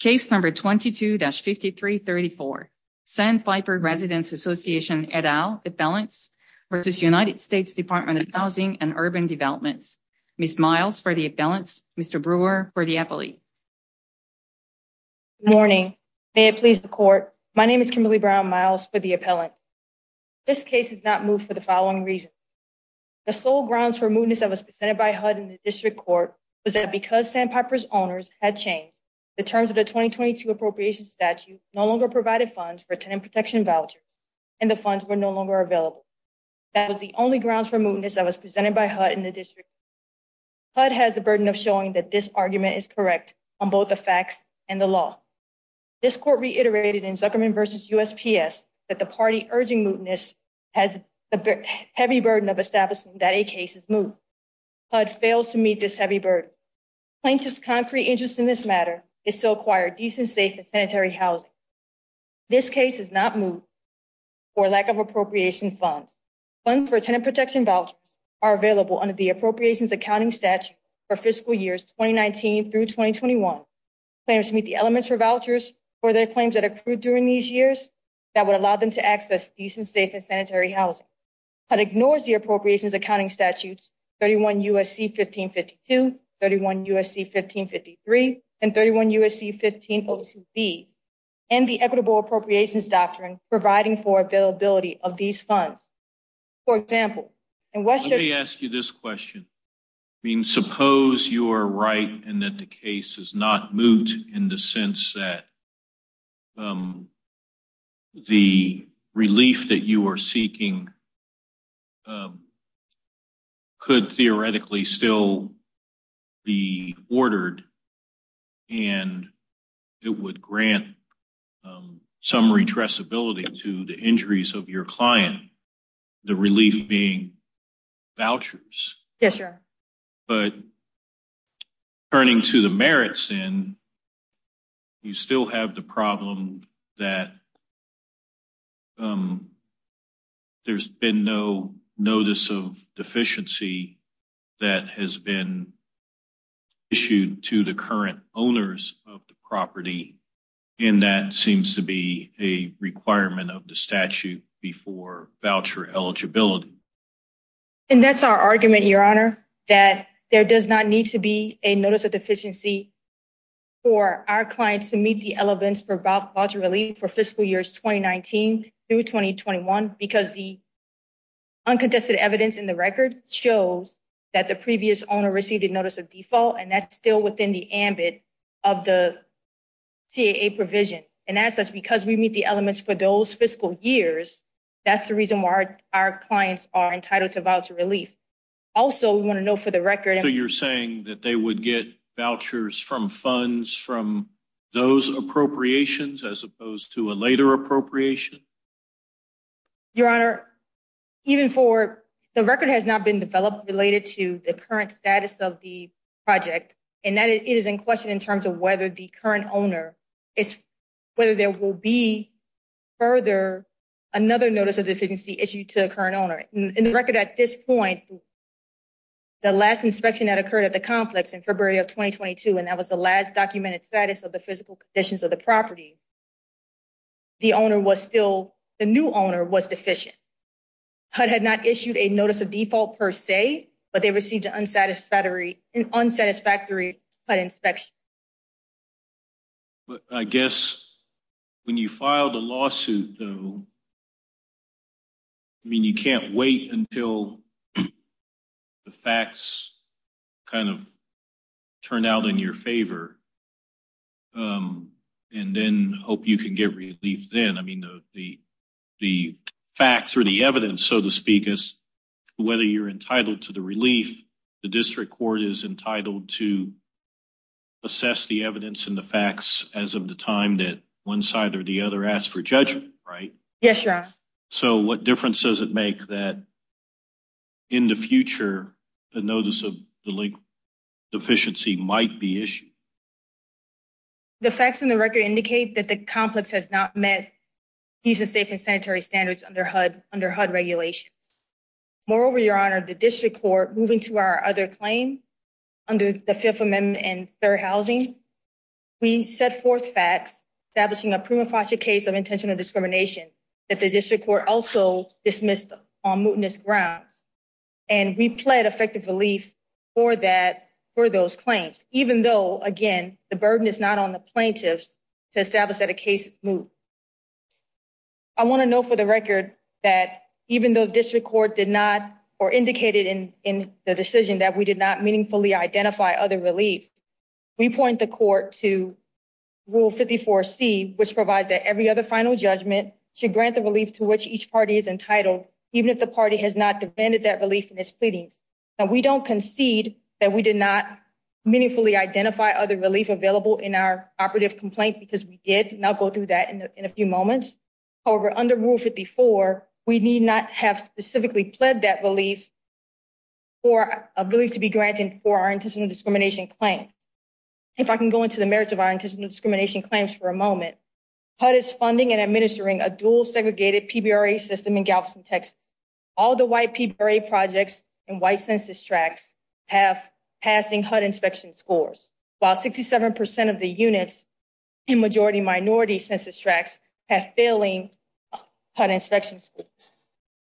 Case number 22-5334, Sandpiper Residents Association et al. Appellants v. United States Department of Housing and Urban Development. Ms. Miles for the appellants, Mr. Brewer for the appellate. Good morning. May it please the court, my name is Kimberly Brown Miles for the appellants. This case is not moved for the following reasons. The sole grounds for mootness that was presented by HUD in the district court was that because Sandpiper's owners had changed, the terms of the 2022 appropriations statute no longer provided funds for a tenant protection voucher and the funds were no longer available. That was the only grounds for mootness that was presented by HUD in the district court. HUD has the burden of showing that this argument is correct on both the facts and the law. This court reiterated in Zuckerman v. USPS that the party urging mootness has a heavy burden of establishing that a case is moot. HUD fails to meet this heavy burden. Plaintiff's concrete interest in this matter is to acquire decent, safe, and sanitary housing. This case is not moved for lack of appropriation funds. Funds for a tenant protection voucher are available under the appropriations accounting statute for fiscal years 2019 through 2021. Claimants meet the elements for vouchers for their claims that accrued during these years that would allow them to access decent, safe, and sanitary housing. HUD ignores the appropriations accounting statutes 31 U.S.C. 1552, 31 U.S.C. 1553, and 31 U.S.C. 1502B, and the equitable appropriations doctrine providing for availability of these funds. Let me ask you this question. I mean, suppose you are right and that the case is not moot in the sense that the relief that you are seeking could theoretically still be ordered and it would grant some redressability to the injuries of your client, the relief being vouchers. Yes, sir. But turning to the merits then, you still have the problem that there's been no notice of deficiency that has been issued to the current owners of the property, and that seems to be a requirement of the statute before voucher eligibility. And that's our argument, Your Honor, that there does not need to be a notice of deficiency for our clients to meet the elements for voucher relief for fiscal years 2019 through 2021 because the uncontested evidence in the record shows that the previous owner received a notice of default, and that's still within the ambit of the CAA provision. And as such, because we meet the elements for those fiscal years, that's the reason why our clients are entitled to voucher relief. Also, we want to know for the record... So you're saying that they would get vouchers from funds from those appropriations as opposed to a later appropriation? Your Honor, even for... the record has not been developed related to the current status of the project, and that is in question in terms of whether the current owner is... whether there will be further another notice of deficiency issued to the current owner. In the record at this point, the last inspection that occurred at the complex in February of 2022, and that was the last documented status of the physical conditions of the property, the owner was still... the new owner was deficient. HUD had not issued a notice of default per se, but they received an unsatisfactory HUD inspection. But I guess when you filed a lawsuit, though, I mean, you can't wait until the facts kind of turn out in your favor and then hope you can get relief then. I mean, the facts or the evidence, so to speak, is whether you're entitled to the relief, the district court is entitled to assess the evidence and the facts as of the time that one side or the other asked for judgment, right? Yes, Your Honor. So what difference does it make that in the future, a notice of delinquent deficiency might be issued? The facts in the record indicate that the complex has not met decent, safe, and sanitary standards under HUD regulations. Moreover, Your Honor, the district court, moving to our other claim under the Fifth Amendment and third housing, we set forth facts establishing a prima facie case of intentional discrimination that the district court also dismissed on mootness grounds. And we pled effective relief for that, for those claims, even though, again, the burden is not on the plaintiffs to establish that a case is moot. I want to note for the record that even though the district court did not or indicated in the decision that we did not meaningfully identify other relief, we point the court to Rule 54C, which provides that every other final judgment should grant the relief to which each party is entitled, even if the party has not defended that relief in its pleadings. Now, we don't concede that we did not meaningfully identify other relief available in our operative complaint because we did, and I'll go through that in a few moments. However, under Rule 54, we need not have specifically pled that relief for a relief to be granted for our intentional discrimination claim. If I can go into the merits of our intentional discrimination claims for a moment, HUD is funding and administering a dual segregated PBRA system in Galveston, Texas. All the white PBRA projects and white census tracts have passing HUD inspection scores, while 67% of the units in majority minority census tracts have failing HUD inspection scores.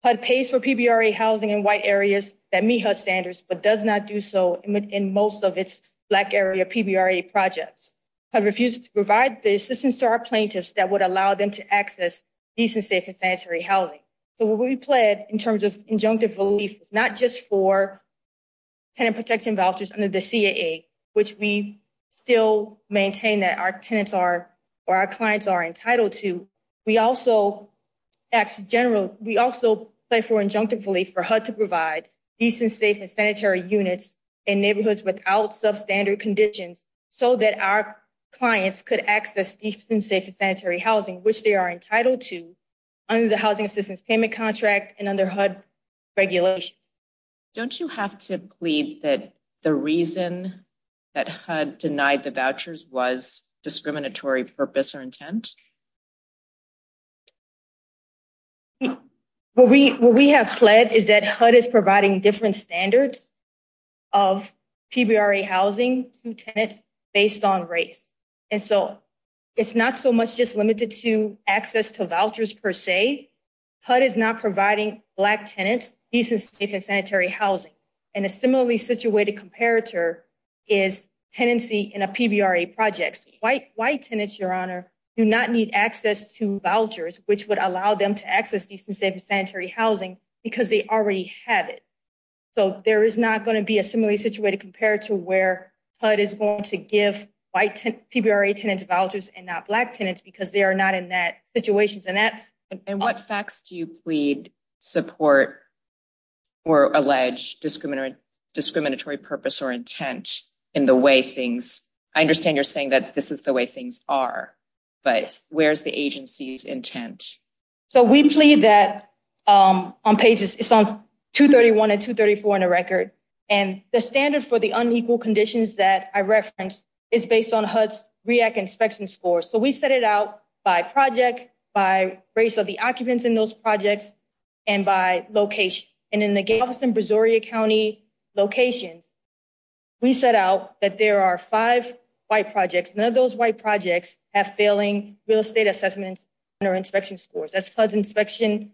HUD pays for PBRA housing in white areas that meet HUD standards but does not do so in most of its black area PBRA projects. HUD refuses to provide the assistance to our plaintiffs that would allow them to access decent, safe, and sanitary housing. So what we pled in terms of injunctive relief is not just for tenant protection vouchers under the CAA, which we still maintain that our tenants are or our clients are entitled to. We also pledge for injunctive relief for HUD to provide decent, safe, and sanitary units in neighborhoods without substandard conditions so that our clients could access decent, safe, and sanitary housing, which they are entitled to under the Housing Assistance Payment Contract and under HUD regulation. Don't you have to plead that the reason that HUD denied the vouchers was discriminatory purpose or intent? What we have pled is that HUD is providing different standards of PBRA housing to tenants based on race. And so it's not so much just limited to access to vouchers per se. HUD is not providing black tenants decent, safe, and sanitary housing. And a similarly situated comparator is tenancy in a PBRA project. White tenants, Your Honor, do not need access to vouchers, which would allow them to access decent, safe, and sanitary housing because they already have it. So there is not going to be a similarly situated comparator where HUD is going to give white PBRA tenants vouchers and not black tenants because they are not in that situation. And what facts do you plead support or allege discriminatory purpose or intent in the way things? I understand you're saying that this is the way things are, but where's the agency's intent? So we plead that on pages 231 and 234 in the record. And the standard for the unequal conditions that I referenced is based on HUD's REAC inspection score. So we set it out by project, by race of the occupants in those projects, and by location. And in the gay office in Brazoria County locations, we set out that there are five white projects. None of those white projects have failing real estate assessments under inspection scores. That's HUD's inspection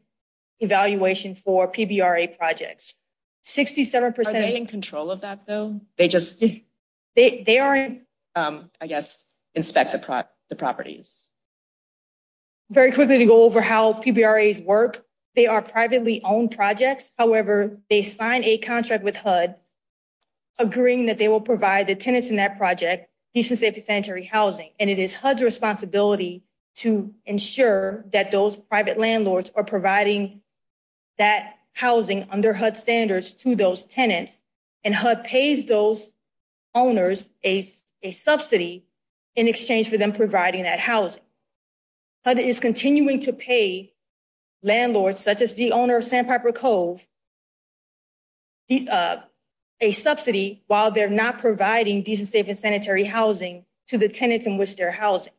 evaluation for PBRA projects. 67 percent. Are they in control of that, though? They aren't, I guess, inspect the properties. Very quickly to go over how PBRAs work. They are privately owned projects. However, they sign a contract with HUD agreeing that they will provide the tenants in that project decent, safe, and sanitary housing. And it is HUD's responsibility to ensure that those private landlords are providing that housing under HUD standards to those tenants. And HUD pays those owners a subsidy in exchange for them providing that housing. HUD is continuing to pay landlords, such as the owner of Sandpiper Cove, a subsidy while they're not providing decent, safe, and sanitary housing to the tenants in which they're housing.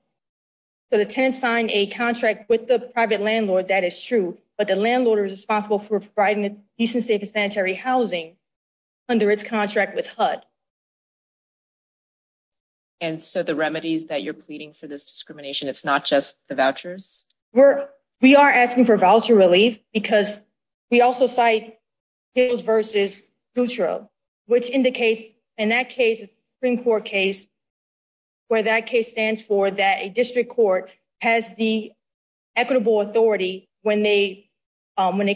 So the tenants signed a contract with the private landlord, that is true, but the landlord is responsible for providing decent, safe, and sanitary housing under its contract with HUD. And so the remedies that you're pleading for this discrimination, it's not just the vouchers? We are asking for voucher relief because we also cite Hills v. Sutro, which indicates in that case, a Supreme Court case, where that case stands for that a district court has the equitable authority when a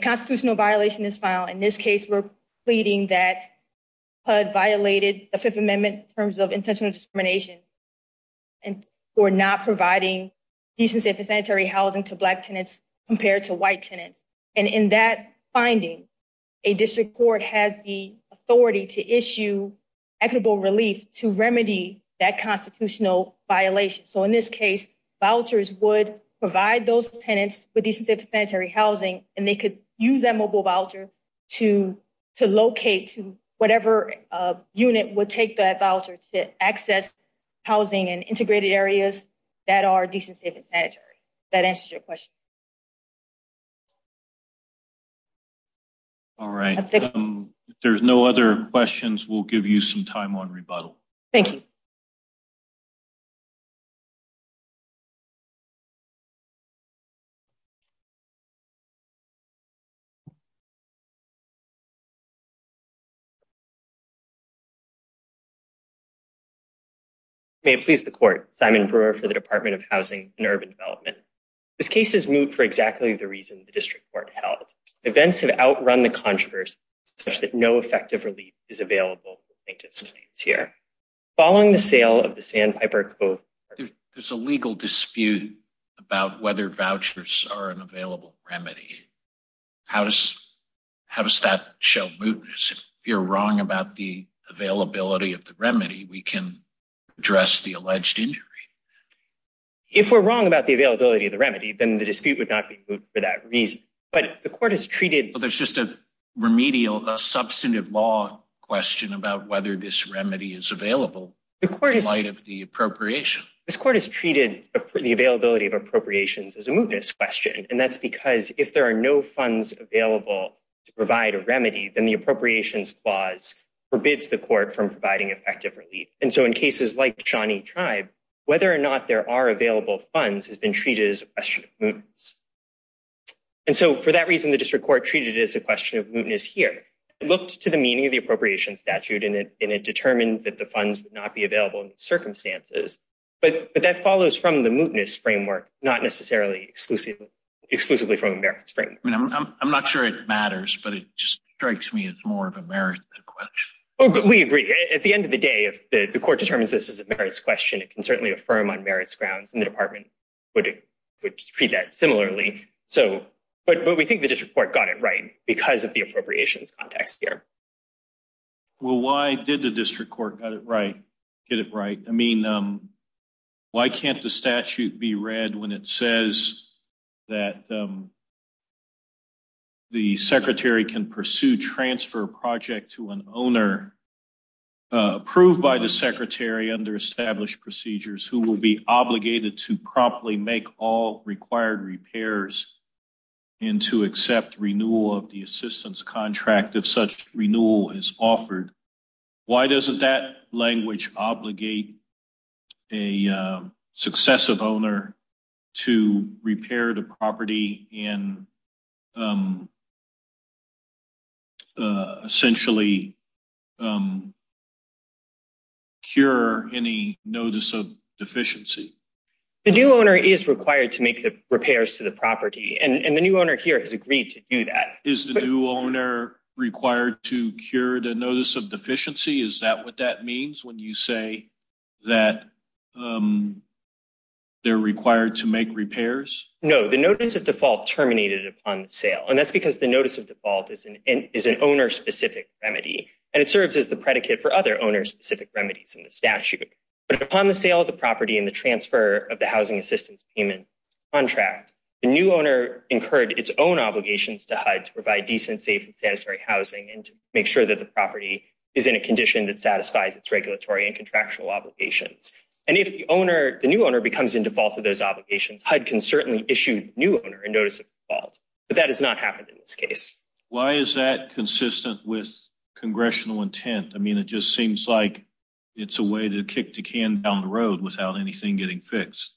constitutional violation is filed. In this case, we're pleading that HUD violated the Fifth Amendment in terms of intentional discrimination for not providing decent, safe, and sanitary housing to black tenants compared to white tenants. And in that finding, a district court has the authority to issue equitable relief to remedy that constitutional violation. So in this case, vouchers would provide those tenants with decent, safe, and sanitary housing, and they could use that mobile voucher to locate to whatever unit would take that voucher to access housing and integrated areas that are decent, safe, and sanitary. That answers your question. All right. If there's no other questions, we'll give you some time on rebuttal. Thank you. Thank you. May it please the court. Simon Brewer for the Department of Housing and Urban Development. This case is moot for exactly the reason the district court held. Events have outrun the controversy such that no effective relief is available to plaintiffs here. Following the sale of the Sandpiper Cove, there's a legal dispute about whether vouchers are an available remedy. How does that show mootness? If you're wrong about the availability of the remedy, we can address the alleged injury. If we're wrong about the availability of the remedy, then the dispute would not be moot for that reason. There's just a remedial substantive law question about whether this remedy is available in light of the appropriation. This court has treated the availability of appropriations as a mootness question, and that's because if there are no funds available to provide a remedy, then the appropriations clause forbids the court from providing effective relief. And so in cases like Shawnee Tribe, whether or not there are available funds has been treated as a question of mootness. And so for that reason, the district court treated it as a question of mootness here. It looked to the meaning of the appropriation statute, and it determined that the funds would not be available in the circumstances. But that follows from the mootness framework, not necessarily exclusively from the merits framework. I'm not sure it matters, but it just strikes me as more of a merits question. We agree. At the end of the day, if the court determines this is a merits question, it can certainly affirm on merits grounds. And the department would treat that similarly. But we think the district court got it right because of the appropriations context here. Well, why did the district court get it right? I mean, why can't the statute be read when it says that the secretary can pursue transfer project to an owner approved by the secretary under established procedures who will be obligated to promptly make all required repairs and to accept renewal of the assistance contract if such renewal is offered? Why doesn't that language obligate a successive owner to repair the property and essentially cure any notice of deficiency? The new owner is required to make the repairs to the property, and the new owner here has agreed to do that. Is the new owner required to cure the notice of deficiency? Is that what that means when you say that they're required to make repairs? No, the notice of default terminated upon sale. And that's because the notice of default is an owner specific remedy, and it serves as the predicate for other owner specific remedies in the statute. But upon the sale of the property and the transfer of the housing assistance payment contract, the new owner incurred its own obligations to HUD to provide decent, safe and sanitary housing and to make sure that the property is in a condition that satisfies its regulatory and contractual obligations. And if the new owner becomes in default of those obligations, HUD can certainly issue new owner a notice of default. But that has not happened in this case. Why is that consistent with congressional intent? I mean, it just seems like it's a way to kick the can down the road without anything getting fixed.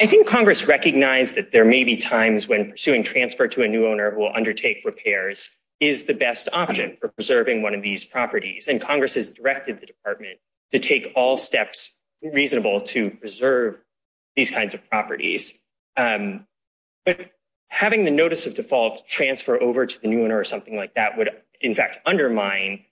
I think Congress recognized that there may be times when pursuing transfer to a new owner who will undertake repairs is the best option for preserving one of these properties. And Congress has directed the department to take all steps reasonable to preserve these kinds of properties. But having the notice of default transfer over to the new owner or something like that would, in fact, undermine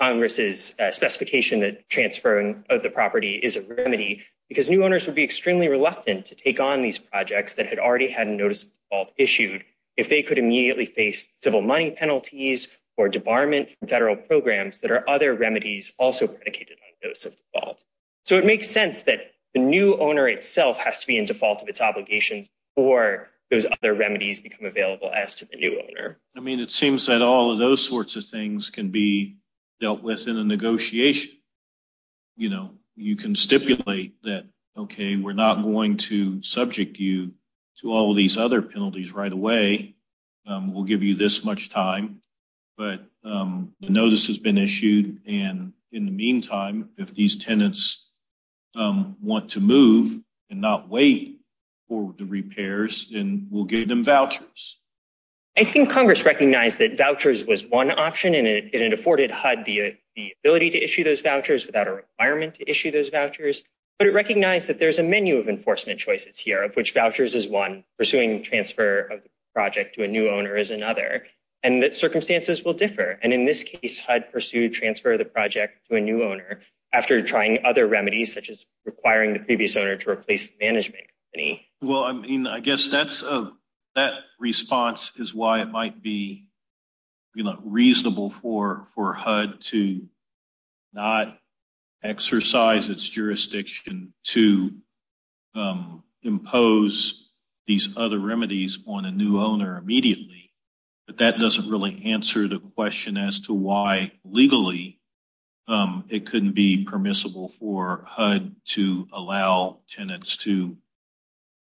Congress's specification that transferring of the property is a remedy. Because new owners would be extremely reluctant to take on these projects that had already had notice of default issued if they could immediately face civil money penalties or debarment from federal programs that are other remedies also predicated on notice of default. So it makes sense that the new owner itself has to be in default of its obligations or those other remedies become available as to the new owner. I mean, it seems that all of those sorts of things can be dealt with in a negotiation. You know, you can stipulate that, okay, we're not going to subject you to all of these other penalties right away. We'll give you this much time. But the notice has been issued, and in the meantime, if these tenants want to move and not wait for the repairs, then we'll give them vouchers. I think Congress recognized that vouchers was one option, and it afforded HUD the ability to issue those vouchers without a requirement to issue those vouchers. But it recognized that there's a menu of enforcement choices here, of which vouchers is one, pursuing transfer of the project to a new owner is another. And the circumstances will differ. And in this case, HUD pursued transfer of the project to a new owner after trying other remedies, such as requiring the previous owner to replace the management company. Well, I mean, I guess that response is why it might be reasonable for HUD to not exercise its jurisdiction to impose these other remedies on a new owner immediately. But that doesn't really answer the question as to why legally it couldn't be permissible for HUD to allow tenants to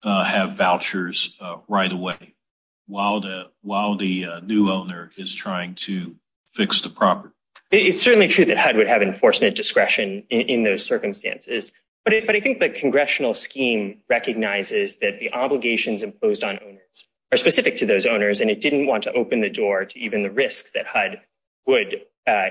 have vouchers right away while the new owner is trying to fix the property. It's certainly true that HUD would have enforcement discretion in those circumstances. But I think the congressional scheme recognizes that the obligations imposed on owners are specific to those owners, and it didn't want to open the door to even the risk that HUD would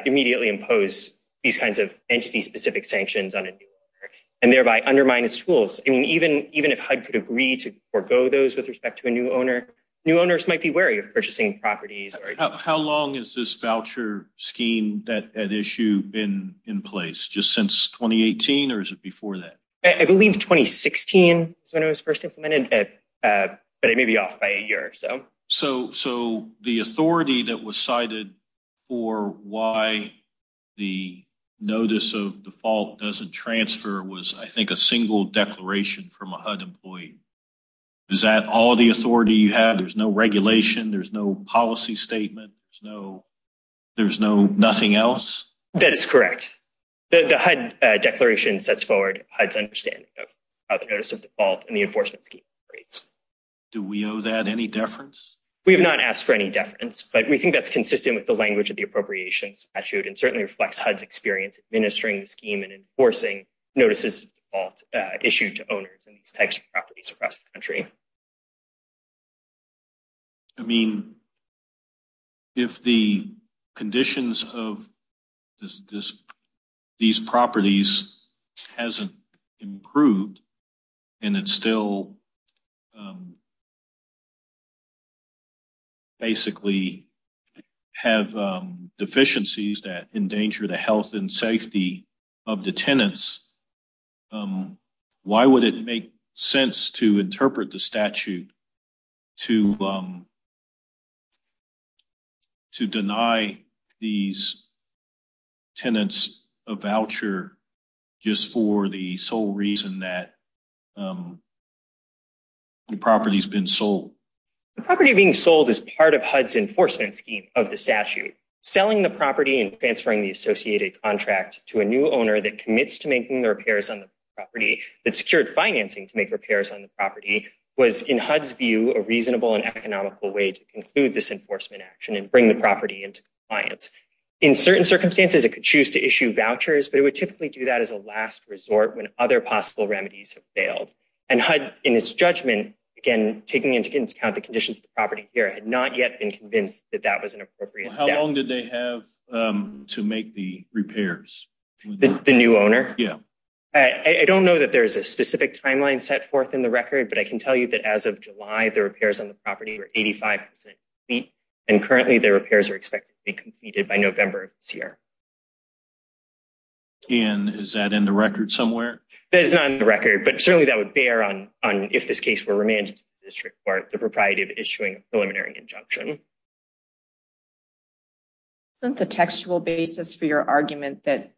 immediately impose these kinds of entity-specific sanctions on a new owner and thereby undermine its tools. I mean, even if HUD could agree to forego those with respect to a new owner, new owners might be wary of purchasing properties. How long has this voucher scheme at issue been in place, just since 2018, or is it before that? I believe 2016 is when it was first implemented, but it may be off by a year or so. So the authority that was cited for why the notice of default doesn't transfer was, I think, a single declaration from a HUD employee. Is that all the authority you have? There's no regulation. There's no policy statement. There's no nothing else? That's correct. The HUD declaration sets forward HUD's understanding of notice of default in the enforcement scheme rates. Do we owe that any deference? We have not asked for any deference, but we think that's consistent with the language of the appropriations statute and certainly reflects HUD's experience administering the scheme and enforcing notices of default issued to owners in these types of properties across the country. I mean, if the conditions of these properties hasn't improved and it's still basically have deficiencies that endanger the health and safety of the tenants, why would it make sense to interpret the statute to deny these tenants a voucher just for the sole reason that the property has been sold? The property being sold is part of HUD's enforcement scheme of the statute. Selling the property and transferring the associated contract to a new owner that commits to making the repairs on the property that secured financing to make repairs on the property was, in HUD's view, a reasonable and economical way to conclude this enforcement action and bring the property into compliance. In certain circumstances, it could choose to issue vouchers, but it would typically do that as a last resort when other possible remedies have failed. And HUD, in its judgment, again, taking into account the conditions of the property here, had not yet been convinced that that was an appropriate step. How long did they have to make the repairs? The new owner? Yeah. I don't know that there's a specific timeline set forth in the record, but I can tell you that as of July, the repairs on the property were 85% complete, and currently the repairs are expected to be completed by November of this year. And is that in the record somewhere? That is not in the record, but certainly that would bear on if this case were remanded to the district court, the propriety of issuing a preliminary injunction. Isn't the textual basis for your argument that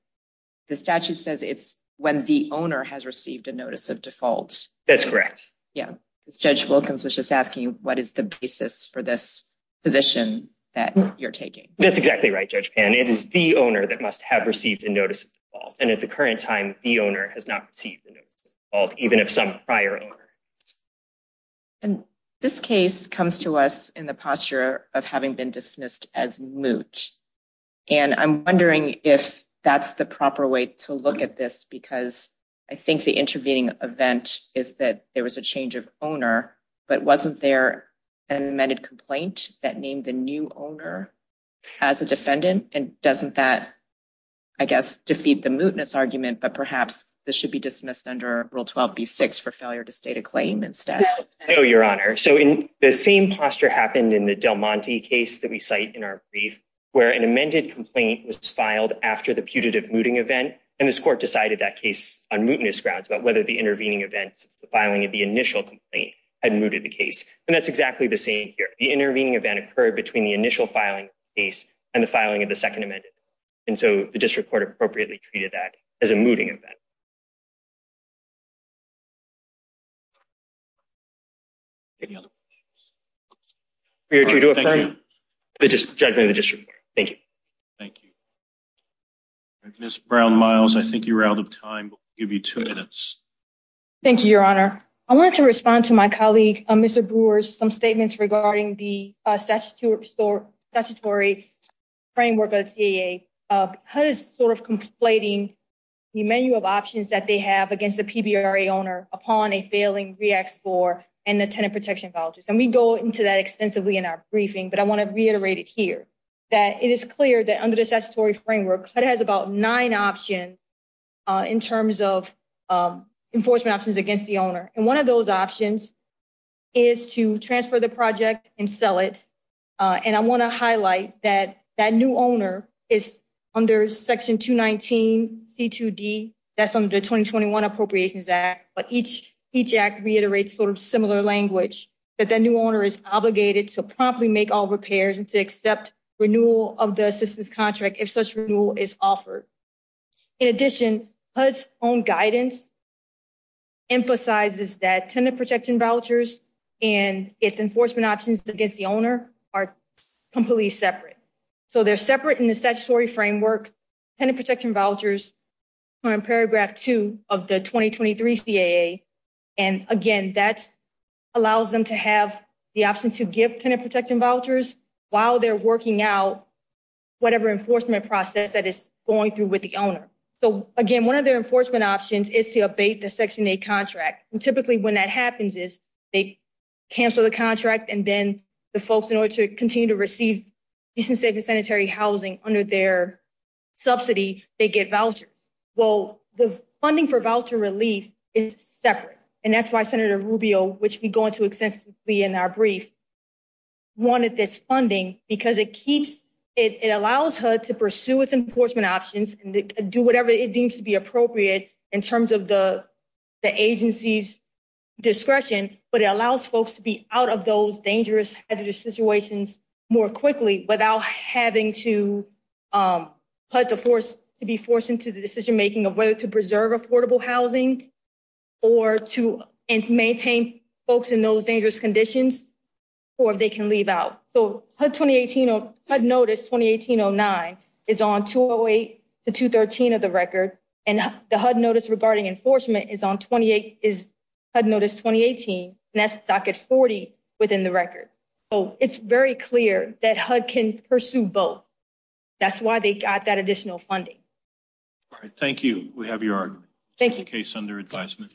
the statute says it's when the owner has received a notice of default? That's correct. Yeah. Judge Wilkins was just asking, what is the basis for this position that you're taking? That's exactly right, Judge Pan. It is the owner that must have received a notice of default, and at the current time, the owner has not received a notice of default, even of some prior owner. And this case comes to us in the posture of having been dismissed as moot. And I'm wondering if that's the proper way to look at this, because I think the intervening event is that there was a change of owner, but wasn't there an amended complaint that named the new owner as a defendant? And doesn't that, I guess, defeat the mootness argument, but perhaps this should be dismissed under Rule 12b-6 for failure to state a claim instead? No, Your Honor. So the same posture happened in the Del Monte case that we cite in our brief, where an amended complaint was filed after the putative mooting event, and this court decided that case on mootness grounds about whether the intervening event since the filing of the initial complaint had mooted the case. And that's exactly the same here. The intervening event occurred between the initial filing of the case and the filing of the second amended. And so the district court appropriately treated that as a mooting event. Any other questions? Your Honor, thank you. Judgment of the district court. Thank you. Thank you. Ms. Brown-Miles, I think you're out of time. We'll give you two minutes. Thank you, Your Honor. I wanted to respond to my colleague, Mr. Brewer's, some statements regarding the statutory framework of the CAA. HUD is sort of conflating the menu of options that they have against the PBRA owner upon a failing REACT score and the tenant protection vouchers. And we go into that extensively in our briefing, but I want to reiterate it here, that it is clear that under the statutory framework, HUD has about nine options in terms of enforcement options against the owner. And one of those options is to transfer the project and sell it. And I want to highlight that that new owner is under Section 219C2D. That's under the 2021 Appropriations Act, but each act reiterates sort of similar language, that the new owner is obligated to promptly make all repairs and to accept renewal of the assistance contract if such renewal is offered. In addition, HUD's own guidance emphasizes that tenant protection vouchers and its enforcement options against the owner are completely separate. So they're separate in the statutory framework. Tenant protection vouchers are in Paragraph 2 of the 2023 CAA. And again, that allows them to have the option to give tenant protection vouchers while they're working out whatever enforcement process that is going through with the owner. So again, one of their enforcement options is to abate the Section 8 contract. And typically when that happens is they cancel the contract and then the folks in order to continue to receive decent, safe and sanitary housing under their subsidy, they get vouchers. Well, the funding for voucher relief is separate. And that's why Senator Rubio, which we go into extensively in our brief, wanted this funding because it allows HUD to pursue its enforcement options and do whatever it deems to be appropriate in terms of the agency's discretion. But it allows folks to be out of those dangerous hazardous situations more quickly without having to be forced into the decision making of whether to preserve affordable housing or to maintain folks in those dangerous conditions or if they can leave out. So HUD Notice 2018-09 is on 208 to 213 of the record and the HUD Notice regarding enforcement is on 28 is HUD Notice 2018 and that's docket 40 within the record. So it's very clear that HUD can pursue both. That's why they got that additional funding. Thank you. We have your case under advisement.